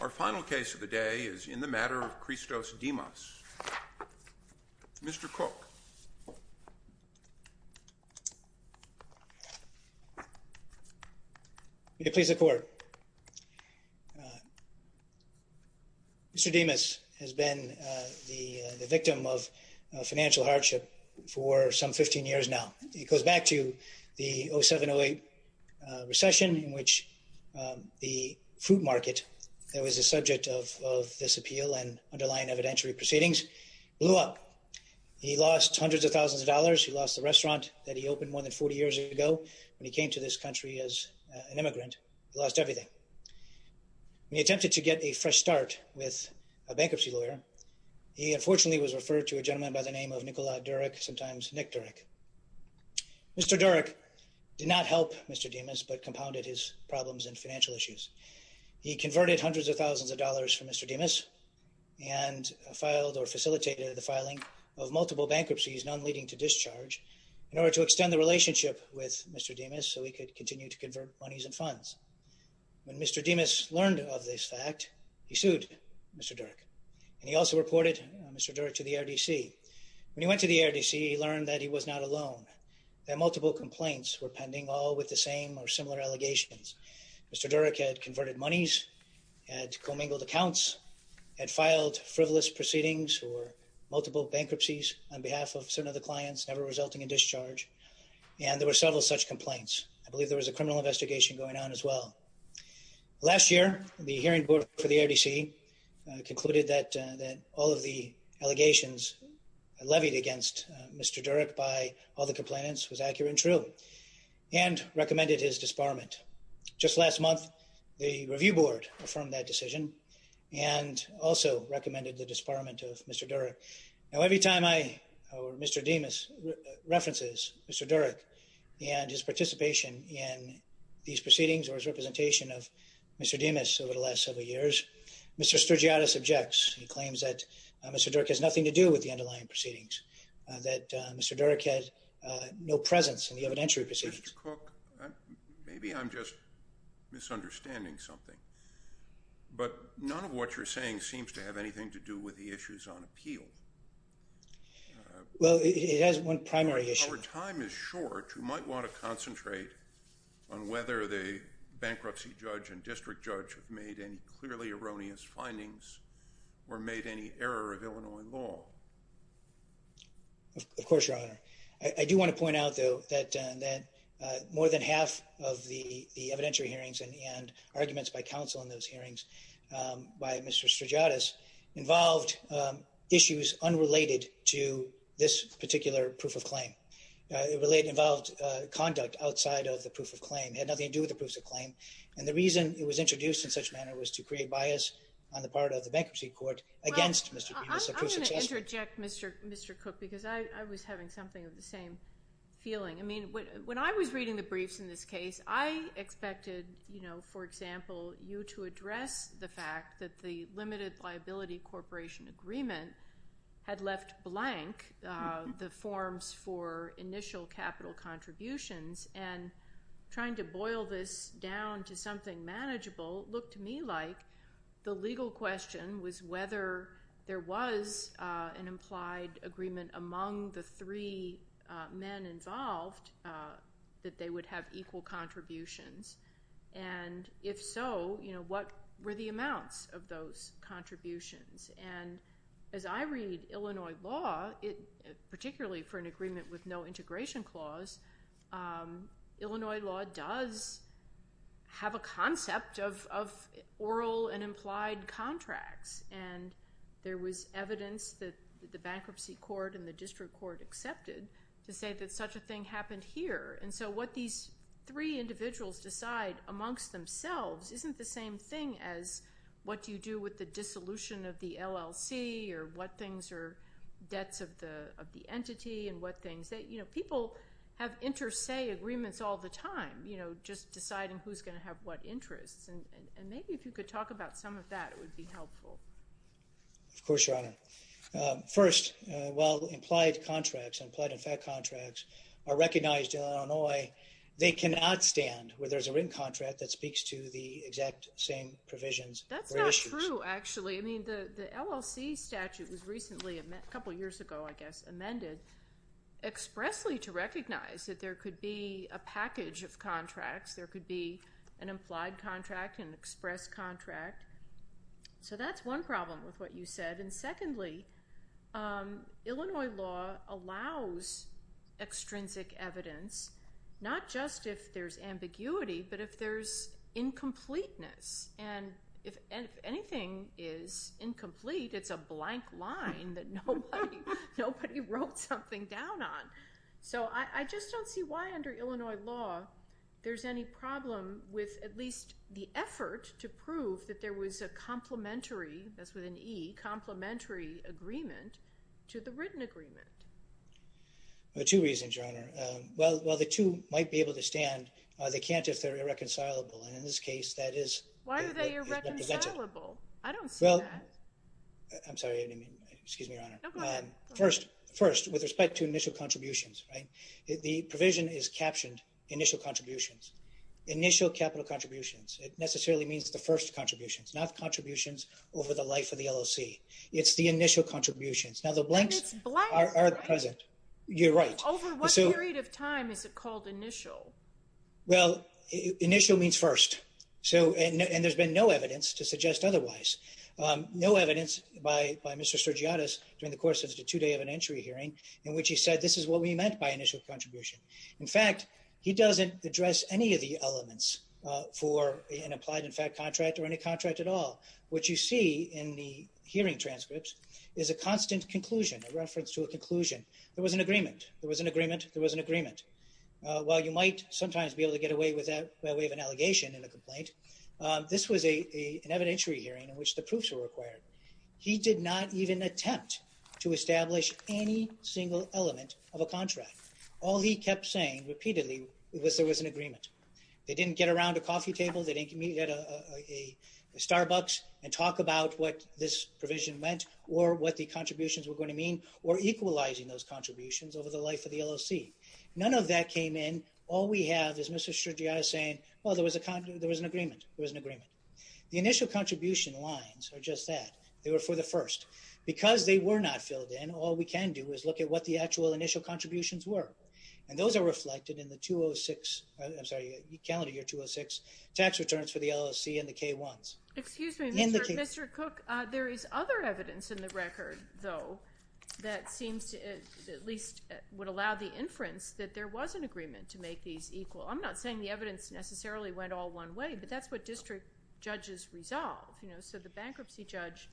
Our final case of the day is in the matter of Christos Dimas. Mr. Cook. May it please the Court. Mr. Dimas has been the victim of financial hardship for some 15 years now. It goes back to the 07-08 recession in which the food market that was the subject of this appeal and underlying evidentiary proceedings blew up. He lost hundreds of thousands of dollars. He lost the restaurant that he opened more than 40 years ago when he came to this country as an immigrant. He lost everything. When he attempted to get a fresh start with a bankruptcy lawyer, he unfortunately was referred to a gentleman by the name of Nikola Durek, sometimes Nick Durek. Mr. Durek did not help Mr. Dimas but compounded his problems and financial issues. He converted hundreds of thousands of dollars for Mr. Dimas and filed or facilitated the filing of multiple bankruptcies, none leading to discharge, in order to extend the relationship with Mr. Dimas so he could continue to convert monies and funds. When Mr. Dimas learned of this fact, he sued Mr. Durek. And he also reported Mr. Durek to the ARDC. When he went to the ARDC, he learned that he was not alone, that multiple complaints were pending, all with the same or similar allegations. Mr. Durek had converted monies, had commingled accounts, had filed frivolous proceedings or multiple bankruptcies on behalf of some of the clients, never resulting in discharge. And there were several such complaints. I believe there was a criminal investigation going on as well. Last year, the hearing board for the ARDC concluded that all of the allegations levied against Mr. Durek by all the complainants was accurate and true and recommended his disbarment. Just last month, the review board affirmed that decision and also recommended the disbarment of Mr. Durek. Now, every time I or Mr. Dimas references Mr. Durek and his participation in these proceedings or his representation of Mr. Dimas over the last several years, Mr. Sturgiotis objects. He claims that Mr. Durek has nothing to do with the underlying proceedings, that Mr. Durek had no presence in the evidentiary proceedings. Mr. Cook, maybe I'm just misunderstanding something, but none of what you're saying seems to have anything to do with the issues on appeal. Well, it has one primary issue. Our time is short. You might want to concentrate on whether the bankruptcy judge and district judge have made any clearly erroneous findings or made any error of Illinois law. Of course, your honor, I do want to point out, though, that that more than half of the evidentiary hearings and arguments by counsel in those hearings by Mr. Sturgiotis involved issues unrelated to this particular proof of claim. It involved conduct outside of the proof of claim. It had nothing to do with the proof of claim. And the reason it was introduced in such a manner was to create bias on the part of the bankruptcy court against Mr. Dimas. I'm going to interject, Mr. Cook, because I was having something of the same feeling. I mean, when I was reading the briefs in this case, I expected, you know, for example, you to address the fact that the limited liability corporation agreement had left blank the forms for initial capital contributions. And trying to boil this down to something manageable looked to me like the legal question was whether there was an implied agreement among the three men involved that they would have equal contributions. And if so, you know, what were the amounts of those contributions? And as I read Illinois law, particularly for an agreement with no integration clause, Illinois law does have a concept of oral and implied contracts. And there was evidence that the bankruptcy court and the district court accepted to say that such a thing happened here. And so what these three individuals decide amongst themselves isn't the same thing as what you do with the dissolution of the LLC or what things are debts of the entity and what things that, you know, people have inter se agreements all the time, you know, just deciding who's going to have what interests. And maybe if you could talk about some of that, it would be helpful. Of course, Your Honor. First, while implied contracts and implied in fact contracts are recognized in Illinois, they cannot stand where there's a written contract that speaks to the exact same provisions. That's not true, actually. I mean, the LLC statute was recently a couple years ago, I guess, amended expressly to recognize that there could be a package of contracts. There could be an implied contract and express contract. So that's one problem with what you said. And secondly, Illinois law allows extrinsic evidence, not just if there's ambiguity, but if there's incompleteness. And if anything is incomplete, it's a blank line that nobody wrote something down on. So I just don't see why under Illinois law, there's any problem with at least the effort to prove that there was a complementary, that's with an E, complementary agreement to the written agreement. Well, two reasons, Your Honor. Well, the two might be able to stand. They can't if they're irreconcilable. And in this case, that is. Why are they irreconcilable? I don't see that. I'm sorry. Excuse me, Your Honor. First, with respect to initial contributions, the provision is captioned initial contributions, initial capital contributions. It necessarily means the first contributions, not contributions over the life of the LLC. It's the initial contributions. Now, the blanks are present. You're right. Over what period of time is it called initial? Well, initial means first. And there's been no evidence to suggest otherwise. No evidence by Mr. Sergiatis during the course of the two-day evidentiary hearing in which he said this is what we meant by initial contribution. In fact, he doesn't address any of the elements for an applied-in-fact contract or any contract at all. What you see in the hearing transcripts is a constant conclusion, a reference to a conclusion. There was an agreement. There was an agreement. While you might sometimes be able to get away with that by way of an allegation in a complaint, this was an evidentiary hearing in which the proofs were required. He did not even attempt to establish any single element of a contract. All he kept saying repeatedly was there was an agreement. They didn't get around a coffee table. They didn't get a Starbucks and talk about what this provision meant or what the contributions were going to mean or equalizing those contributions over the life of the LLC. None of that came in. All we have is Mr. Sergiatis saying, well, there was an agreement. There was an agreement. The initial contribution lines are just that. They were for the first. Because they were not filled in, all we can do is look at what the actual initial contributions were. And those are reflected in the 206, I'm sorry, calendar year 206 tax returns for the LLC and the K-1s. Excuse me. Mr. Cook, there is other evidence in the record, though, that seems to at least would allow the inference that there was an agreement to make these equal. I'm not saying the evidence necessarily went all one way, but that's what district judges resolve. So the bankruptcy judge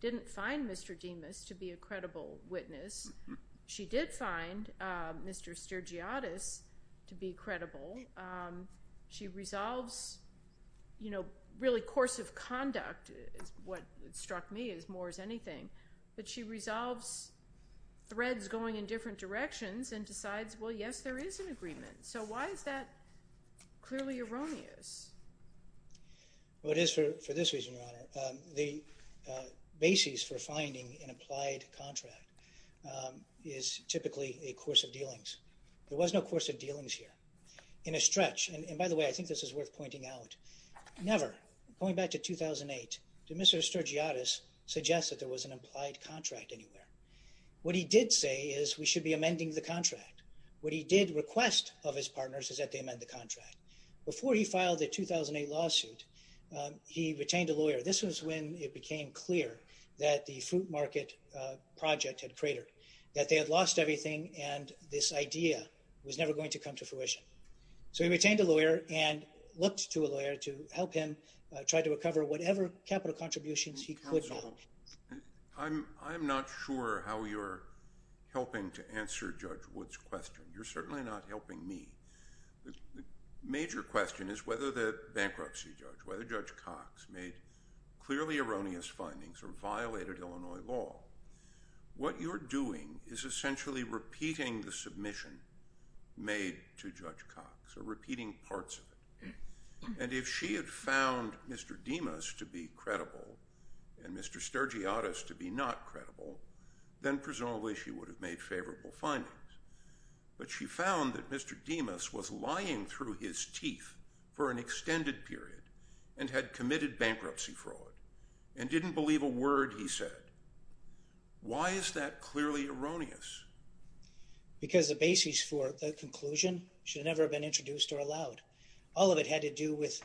didn't find Mr. Demas to be a credible witness. She did find Mr. Sergiatis to be credible. She resolves, you know, really course of conduct is what struck me as more as anything. But she resolves threads going in different directions and decides, well, yes, there is an agreement. So why is that clearly erroneous? Well, it is for this reason, Your Honor. The basis for finding an applied contract is typically a course of dealings. There was no course of dealings here. In a stretch, and by the way, I think this is worth pointing out, never, going back to 2008, did Mr. Sergiatis suggest that there was an applied contract anywhere. What he did say is we should be amending the contract. What he did request of his partners is that they amend the contract. Before he filed the 2008 lawsuit, he retained a lawyer. This was when it became clear that the food market project had cratered, that they had lost everything, and this idea was never going to come to fruition. So he retained a lawyer and looked to a lawyer to help him try to recover whatever capital contributions he could get. I'm not sure how you're helping to answer Judge Wood's question. You're certainly not helping me. The major question is whether the bankruptcy judge, whether Judge Cox, made clearly erroneous findings or violated Illinois law. What you're doing is essentially repeating the submission made to Judge Cox or repeating parts of it. And if she had found Mr. Dimas to be credible and Mr. Sergiatis to be not credible, then presumably she would have made favorable findings. But she found that Mr. Dimas was lying through his teeth for an extended period and had committed bankruptcy fraud and didn't believe a word he said. Why is that clearly erroneous? Because the basis for the conclusion should never have been introduced or allowed. All of it had to do with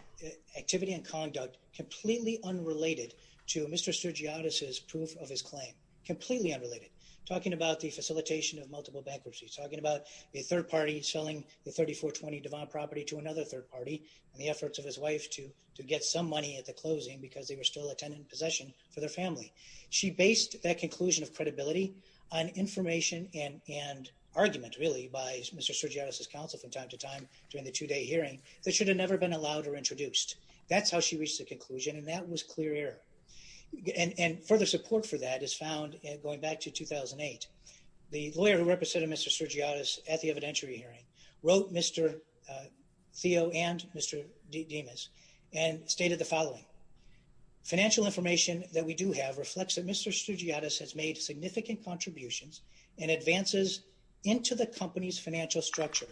activity and conduct completely unrelated to Mr. Sergiatis' proof of his claim, completely unrelated, talking about the facilitation of multiple bankruptcies, talking about a third party selling the 3420 Devon property to another third party and the efforts of his wife to get some money at the closing because they were still a tenant in possession for their family. She based that conclusion of credibility on information and argument, really, by Mr. Sergiatis' counsel from time to time during the two-day hearing that should have never been allowed or introduced. That's how she reached the conclusion, and that was clear error. And further support for that is found going back to 2008. The lawyer who represented Mr. Sergiatis at the evidentiary hearing wrote Mr. Theo and Mr. Dimas and stated the following. Financial information that we do have reflects that Mr. Sergiatis has made significant contributions and advances into the company's financial structure,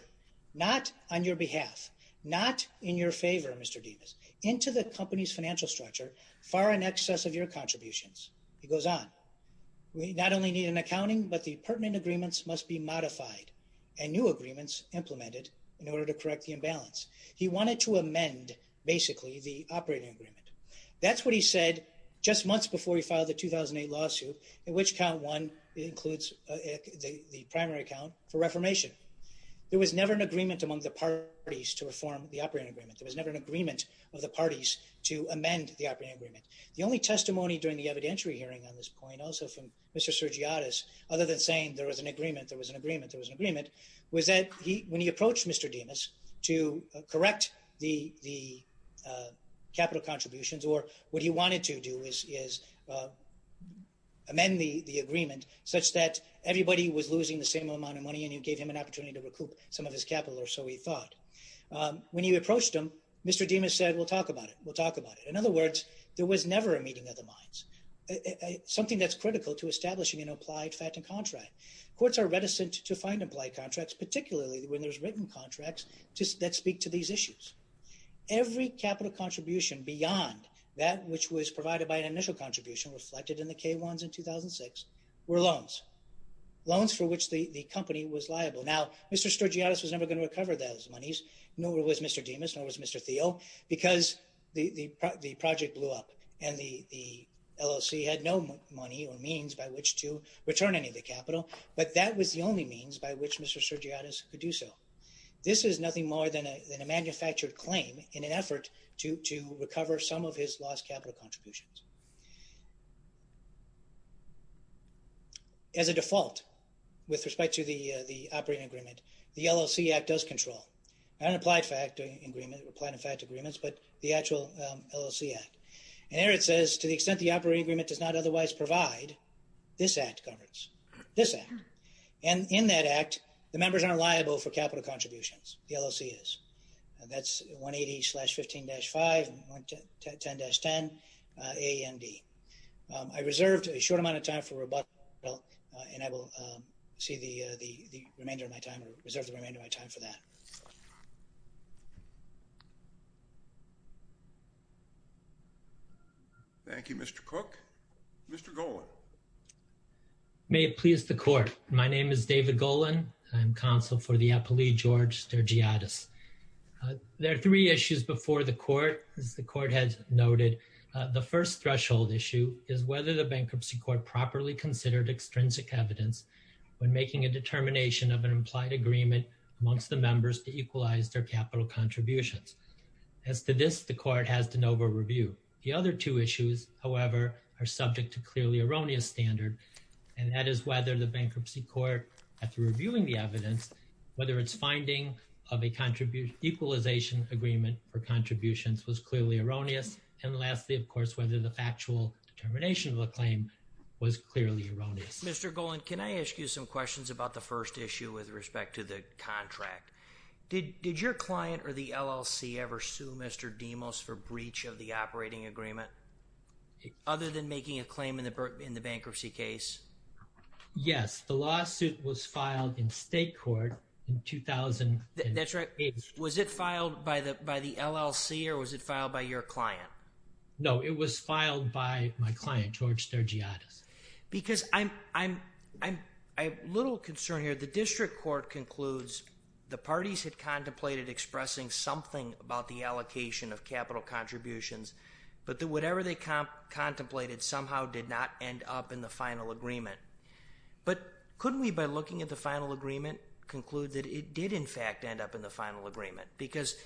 not on your behalf, not in your favor, Mr. Dimas, into the company's financial structure far in excess of your contributions. He goes on. We not only need an accounting, but the pertinent agreements must be modified and new agreements implemented in order to correct the imbalance. He wanted to amend, basically, the operating agreement. That's what he said just months before he filed the 2008 lawsuit, in which count one includes the primary account for reformation. There was never an agreement among the parties to reform the operating agreement. There was never an agreement of the parties to amend the operating agreement. The only testimony during the evidentiary hearing on this point, also from Mr. Sergiatis, other than saying there was an agreement, there was an agreement, there was an agreement, was that when he approached Mr. Dimas to correct the capital contributions, or what he wanted to do is amend the agreement such that everybody was losing the same amount of money and you gave him an opportunity to recoup some of his capital, or so he thought. When you approached him, Mr. Dimas said, we'll talk about it. We'll talk about it. In other words, there was never a meeting of the minds, something that's critical to establishing an applied fact and contract. Courts are reticent to find applied contracts, particularly when there's written contracts that speak to these issues. Every capital contribution beyond that which was provided by an initial contribution reflected in the K1s in 2006 were loans, loans for which the company was liable. Now, Mr. Sergiatis was never going to recover those monies, nor was Mr. Dimas, nor was Mr. Thiel, because the project blew up and the LLC had no money or means by which to return any of the capital, but that was the only means by which Mr. Sergiatis could do so. This is nothing more than a manufactured claim in an effort to recover some of his lost capital contributions. As a default, with respect to the operating agreement, the LLC Act does control. Not an applied fact agreement, but the actual LLC Act. And there it says, to the extent the operating agreement does not otherwise provide, this Act governs. This Act. And in that Act, the members aren't liable for capital contributions. The LLC is. That's 180-15-5, 10-10, A, N, D. I reserved a short amount of time for rebuttal, and I will reserve the remainder of my time for that. Thank you, Mr. Cook. Mr. Golan. May it please the Court. My name is David Golan. I'm counsel for the appellee, George Sergiatis. There are three issues before the Court, as the Court has noted. The first threshold issue is whether the Bankruptcy Court properly considered extrinsic evidence when making a determination of an implied agreement amongst the members to equalize their capital contributions. As to this, the Court has to over-review. The other two issues, however, are subject to clearly erroneous standard, and that is whether the Bankruptcy Court, after reviewing the evidence, whether its finding of a equalization agreement for contributions was clearly erroneous. And lastly, of course, whether the factual determination of the claim was clearly erroneous. Mr. Golan, can I ask you some questions about the first issue with respect to the contract? Did your client or the LLC ever sue Mr. Demos for breach of the operating agreement, other than making a claim in the bankruptcy case? Yes. The lawsuit was filed in state court in 2008. That's right. Was it filed by the LLC or was it filed by your client? No, it was filed by my client, George Sergiatis. Because I have little concern here. The district court concludes the parties had contemplated expressing something about the allocation of capital contributions, but that whatever they contemplated somehow did not end up in the final agreement. But couldn't we, by looking at the final agreement, conclude that it did, in fact, end up in the final agreement? Because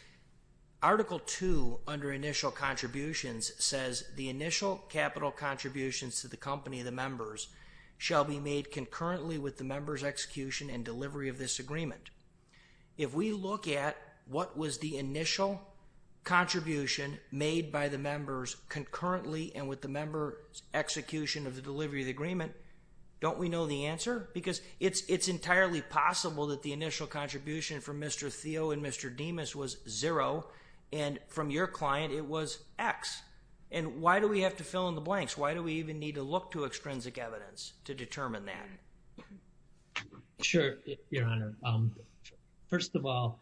Article 2, under initial contributions, says the initial capital contributions to the company of the members shall be made concurrently with the members' execution and delivery of this agreement. If we look at what was the initial contribution made by the members concurrently and with the members' execution of the delivery of the agreement, don't we know the answer? Because it's entirely possible that the initial contribution from Mr. Theo and Mr. Demos was zero, and from your client it was X. And why do we have to fill in the blanks? Why do we even need to look to extrinsic evidence to determine that? Sure, Your Honor. First of all,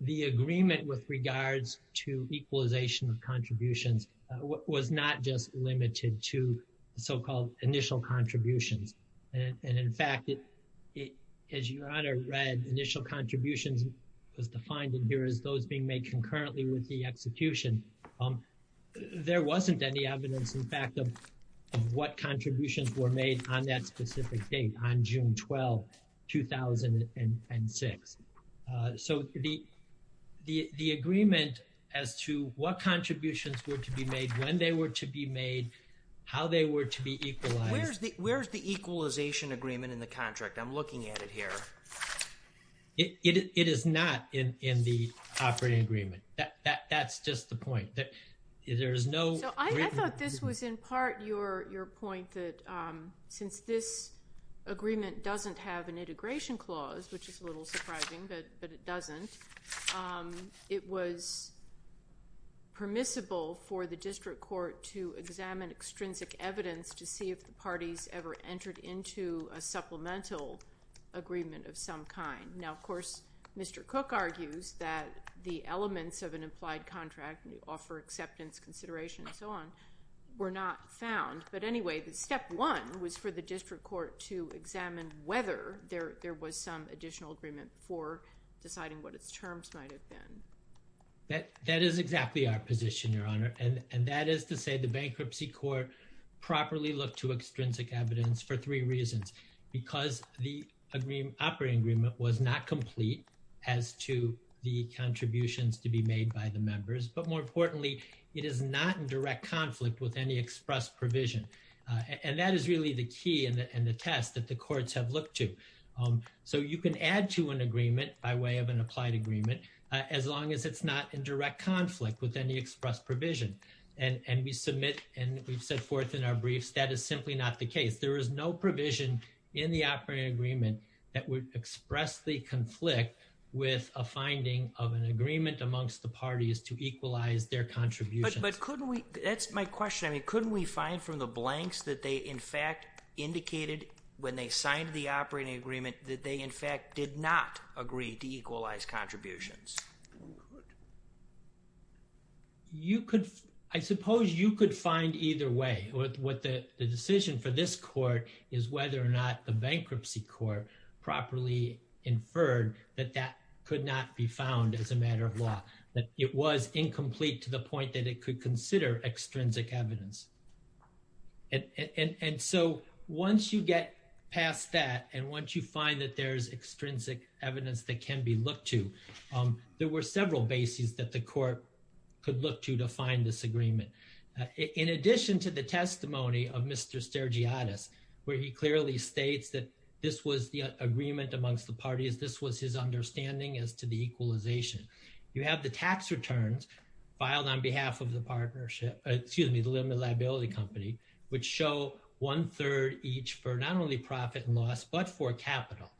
the agreement with regards to equalization of contributions was not just limited to so-called initial contributions. And in fact, as Your Honor read, initial contributions was defined in here as those being made concurrently with the execution. There wasn't any evidence, in fact, of what contributions were made on that specific date, on June 12, 2006. So the agreement as to what contributions were to be made, when they were to be made, how they were to be equalized— Where's the equalization agreement in the contract? I'm looking at it here. It is not in the operating agreement. That's just the point. So I thought this was in part your point that since this agreement doesn't have an integration clause, which is a little surprising, but it doesn't, it was permissible for the district court to examine extrinsic evidence to see if the parties ever entered into a supplemental agreement of some kind. Now, of course, Mr. Cook argues that the elements of an implied contract—offer, acceptance, consideration, and so on—were not found. But anyway, step one was for the district court to examine whether there was some additional agreement for deciding what its terms might have been. That is exactly our position, Your Honor. And that is to say the bankruptcy court properly looked to extrinsic evidence for three reasons. Because the operating agreement was not complete as to the contributions to be made by the members. But more importantly, it is not in direct conflict with any express provision. And that is really the key and the test that the courts have looked to. So you can add to an agreement by way of an applied agreement as long as it's not in direct conflict with any express provision. And we submit and we've set forth in our briefs that is simply not the case. There is no provision in the operating agreement that would express the conflict with a finding of an agreement amongst the parties to equalize their contributions. But couldn't we—that's my question. I mean, couldn't we find from the blanks that they, in fact, indicated when they signed the operating agreement that they, in fact, did not agree to equalize contributions? You could—I suppose you could find either way. What the decision for this court is whether or not the bankruptcy court properly inferred that that could not be found as a matter of law. That it was incomplete to the point that it could consider extrinsic evidence. And so once you get past that and once you find that there is extrinsic evidence that can be looked to, there were several bases that the court could look to to find this agreement. In addition to the testimony of Mr. Stergiadis, where he clearly states that this was the agreement amongst the parties, this was his understanding as to the equalization. You have the tax returns filed on behalf of the partnership—excuse me, the limited liability company, which show one-third each for not only profit and loss, but for capital.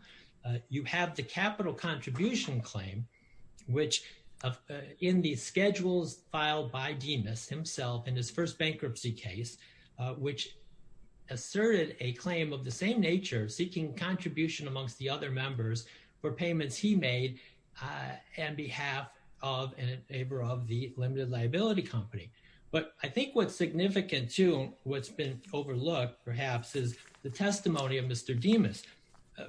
You have the capital contribution claim, which in the schedules filed by Dimas himself in his first bankruptcy case, which asserted a claim of the same nature, seeking contribution amongst the other members for payments he made on behalf of and in favor of the limited liability company. But I think what's significant too, what's been overlooked perhaps, is the testimony of Mr. Dimas.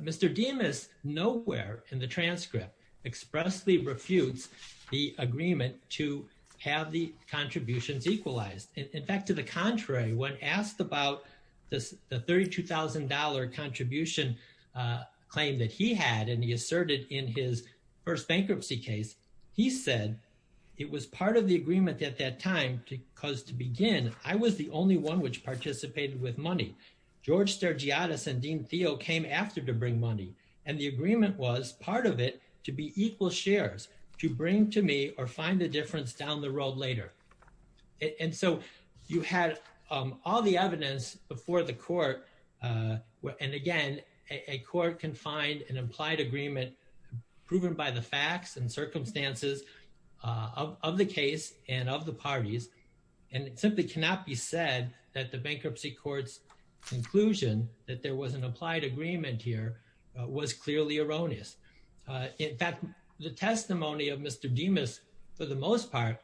Mr. Dimas nowhere in the transcript expressly refutes the agreement to have the contributions equalized. In fact, to the contrary, when asked about the $32,000 contribution claim that he had and he asserted in his first bankruptcy case, he said it was part of the agreement at that time because to begin, I was the only one which participated with money. George Stergiadis and Dean Theo came after to bring money, and the agreement was part of it to be equal shares, to bring to me or find a difference down the road later. And so you had all the evidence before the court. And again, a court can find an implied agreement proven by the facts and circumstances of the case and of the parties. And it simply cannot be said that the bankruptcy court's conclusion that there was an applied agreement here was clearly erroneous. In fact, the testimony of Mr. Dimas, for the most part,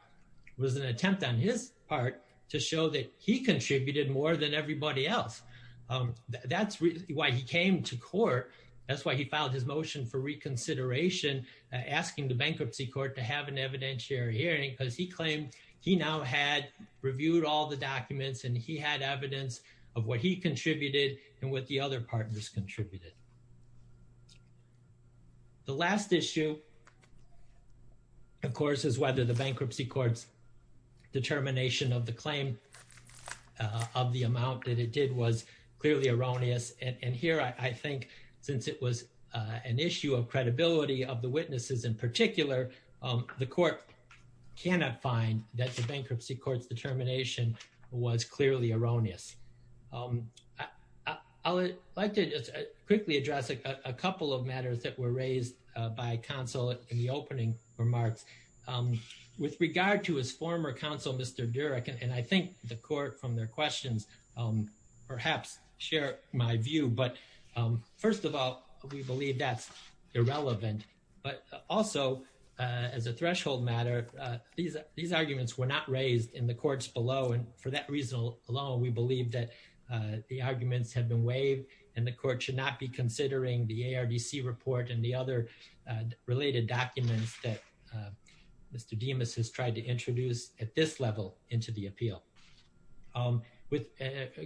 was an attempt on his part to show that he contributed more than everybody else. That's why he came to court. That's why he filed his motion for reconsideration, asking the bankruptcy court to have an evidentiary hearing because he claimed he now had reviewed all the documents and he had evidence of what he contributed and what the other partners contributed. The last issue, of course, is whether the bankruptcy court's determination of the claim of the amount that it did was clearly erroneous. And here, I think since it was an issue of credibility of the witnesses in particular, the court cannot find that the bankruptcy court's determination was clearly erroneous. I'd like to quickly address a couple of matters that were raised by counsel in the opening remarks. With regard to his former counsel, Mr. Durek, and I think the court from their questions perhaps share my view, but first of all, we believe that's irrelevant. But also, as a threshold matter, these arguments were not raised in the courts below, and for that reason alone, we believe that the arguments have been waived and the court should not be considering the ARDC report and the other related documents that Mr. Dimas has tried to introduce at this level into the appeal.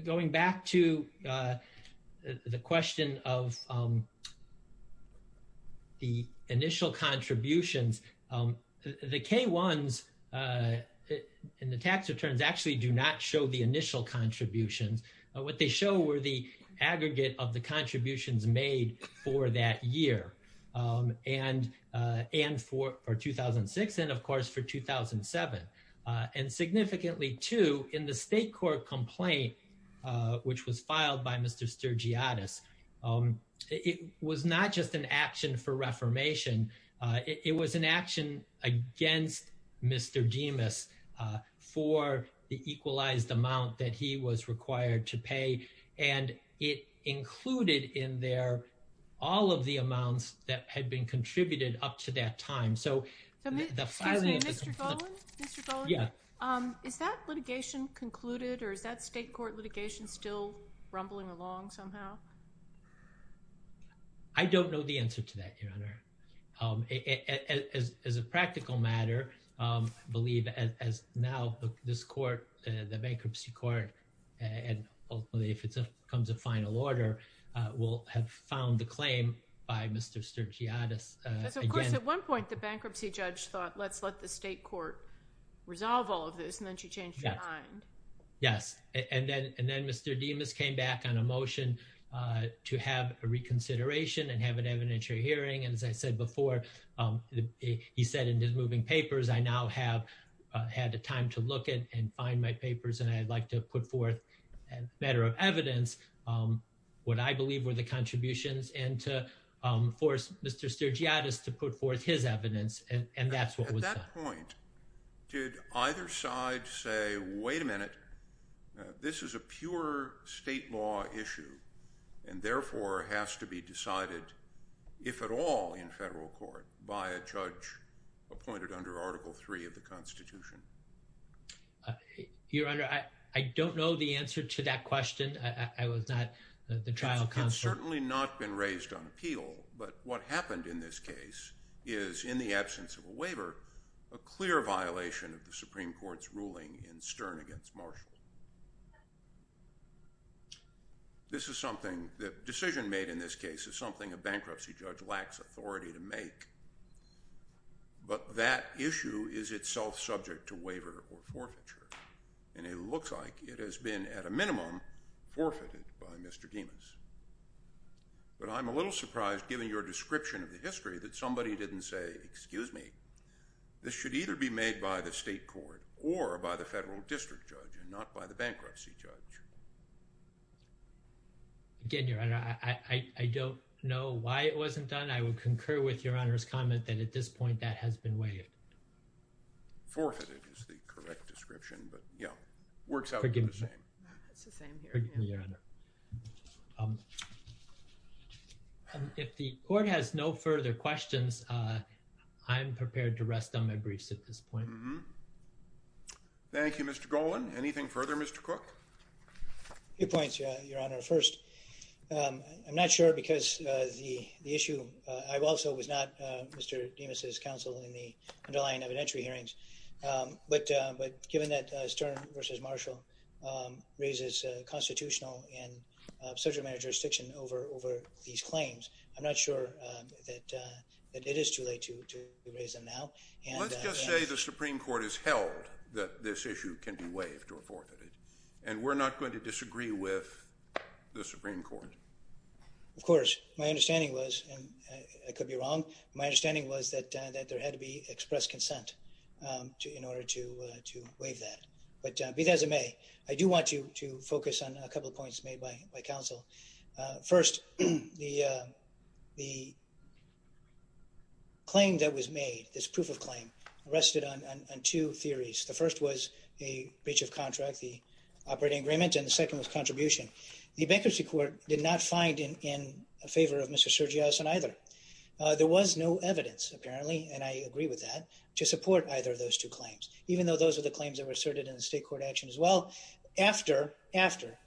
Going back to the question of the initial contributions, the K-1s and the tax returns actually do not show the initial contributions. What they show were the aggregate of the contributions made for that year and for 2006 and, of course, for 2007. And significantly, too, in the state court complaint, which was filed by Mr. Sturgiotis, it was not just an action for reformation. It was an action against Mr. Dimas for the equalized amount that he was required to pay, and it included in there all of the amounts that had been contributed up to that time. Excuse me, Mr. Golan? Yeah. Is that litigation concluded, or is that state court litigation still rumbling along somehow? I don't know the answer to that, Your Honor. As a practical matter, I believe as now this court, the bankruptcy court, and ultimately if it becomes a final order, will have found the claim by Mr. Sturgiotis. Because, of course, at one point the bankruptcy judge thought, let's let the state court resolve all of this, and then she changed her mind. Yes. And then Mr. Dimas came back on a motion to have a reconsideration and have an evidentiary hearing, and as I said before, he said in his moving papers, I now have had the time to look at and find my papers, and I'd like to put forth a matter of evidence, what I believe were the contributions, and to force Mr. Sturgiotis to put forth his evidence, and that's what was done. At what point did either side say, wait a minute, this is a pure state law issue, and therefore has to be decided, if at all, in federal court by a judge appointed under Article III of the Constitution? Your Honor, I don't know the answer to that question. I was not the trial counsel. It has certainly not been raised on appeal, but what happened in this case is, in the absence of a waiver, a clear violation of the Supreme Court's ruling in Stern against Marshall. This is something, the decision made in this case, is something a bankruptcy judge lacks authority to make. But that issue is itself subject to waiver or forfeiture, and it looks like it has been, at a minimum, forfeited by Mr. Dimas. But I'm a little surprised, given your description of the history, that somebody didn't say, excuse me, this should either be made by the state court or by the federal district judge and not by the bankruptcy judge. Again, Your Honor, I don't know why it wasn't done. I would concur with Your Honor's comment that, at this point, that has been waived. Forfeited is the correct description, but yeah, works out the same. It's the same here. Forgive me, Your Honor. If the court has no further questions, I'm prepared to rest on my briefs at this point. Thank you, Mr. Golan. Anything further, Mr. Cook? A few points, Your Honor. First, I'm not sure because the issue, I also was not Mr. Dimas' counsel in the underlying evidentiary hearings. But given that Stern versus Marshall raises constitutional and subject matter jurisdiction over these claims, I'm not sure that it is too late to raise them now. Let's just say the Supreme Court has held that this issue can be waived or forfeited, and we're not going to disagree with the Supreme Court. Of course. My understanding was, and I could be wrong, my understanding was that there had to be express consent in order to waive that. But be that as it may, I do want to focus on a couple of points made by counsel. First, the claim that was made, this proof of claim, rested on two theories. The first was a breach of contract, the operating agreement, and the second was contribution. The bankruptcy court did not find in favor of Mr. Sergioson either. There was no evidence, apparently, and I agree with that, to support either of those two claims, even though those are the claims that were asserted in the state court action as well. After, after,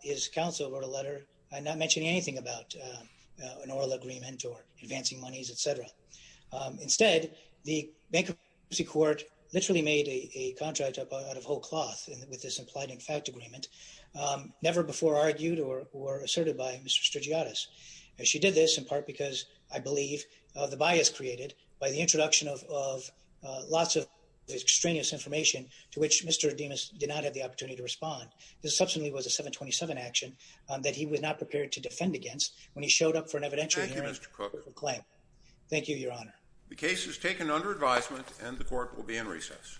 his counsel wrote a letter not mentioning anything about an oral agreement or advancing monies, et cetera. Instead, the bankruptcy court literally made a contract out of whole cloth with this implied in fact agreement, never before argued or asserted by Mr. Sergiotis. And she did this in part because, I believe, of the bias created by the introduction of lots of extraneous information to which Mr. Ademus did not have the opportunity to respond. This subsequently was a 727 action that he was not prepared to defend against when he showed up for an evidentiary hearing. Thank you, Mr. Cook. Thank you, Your Honor. The case is taken under advisement and the court will be in recess.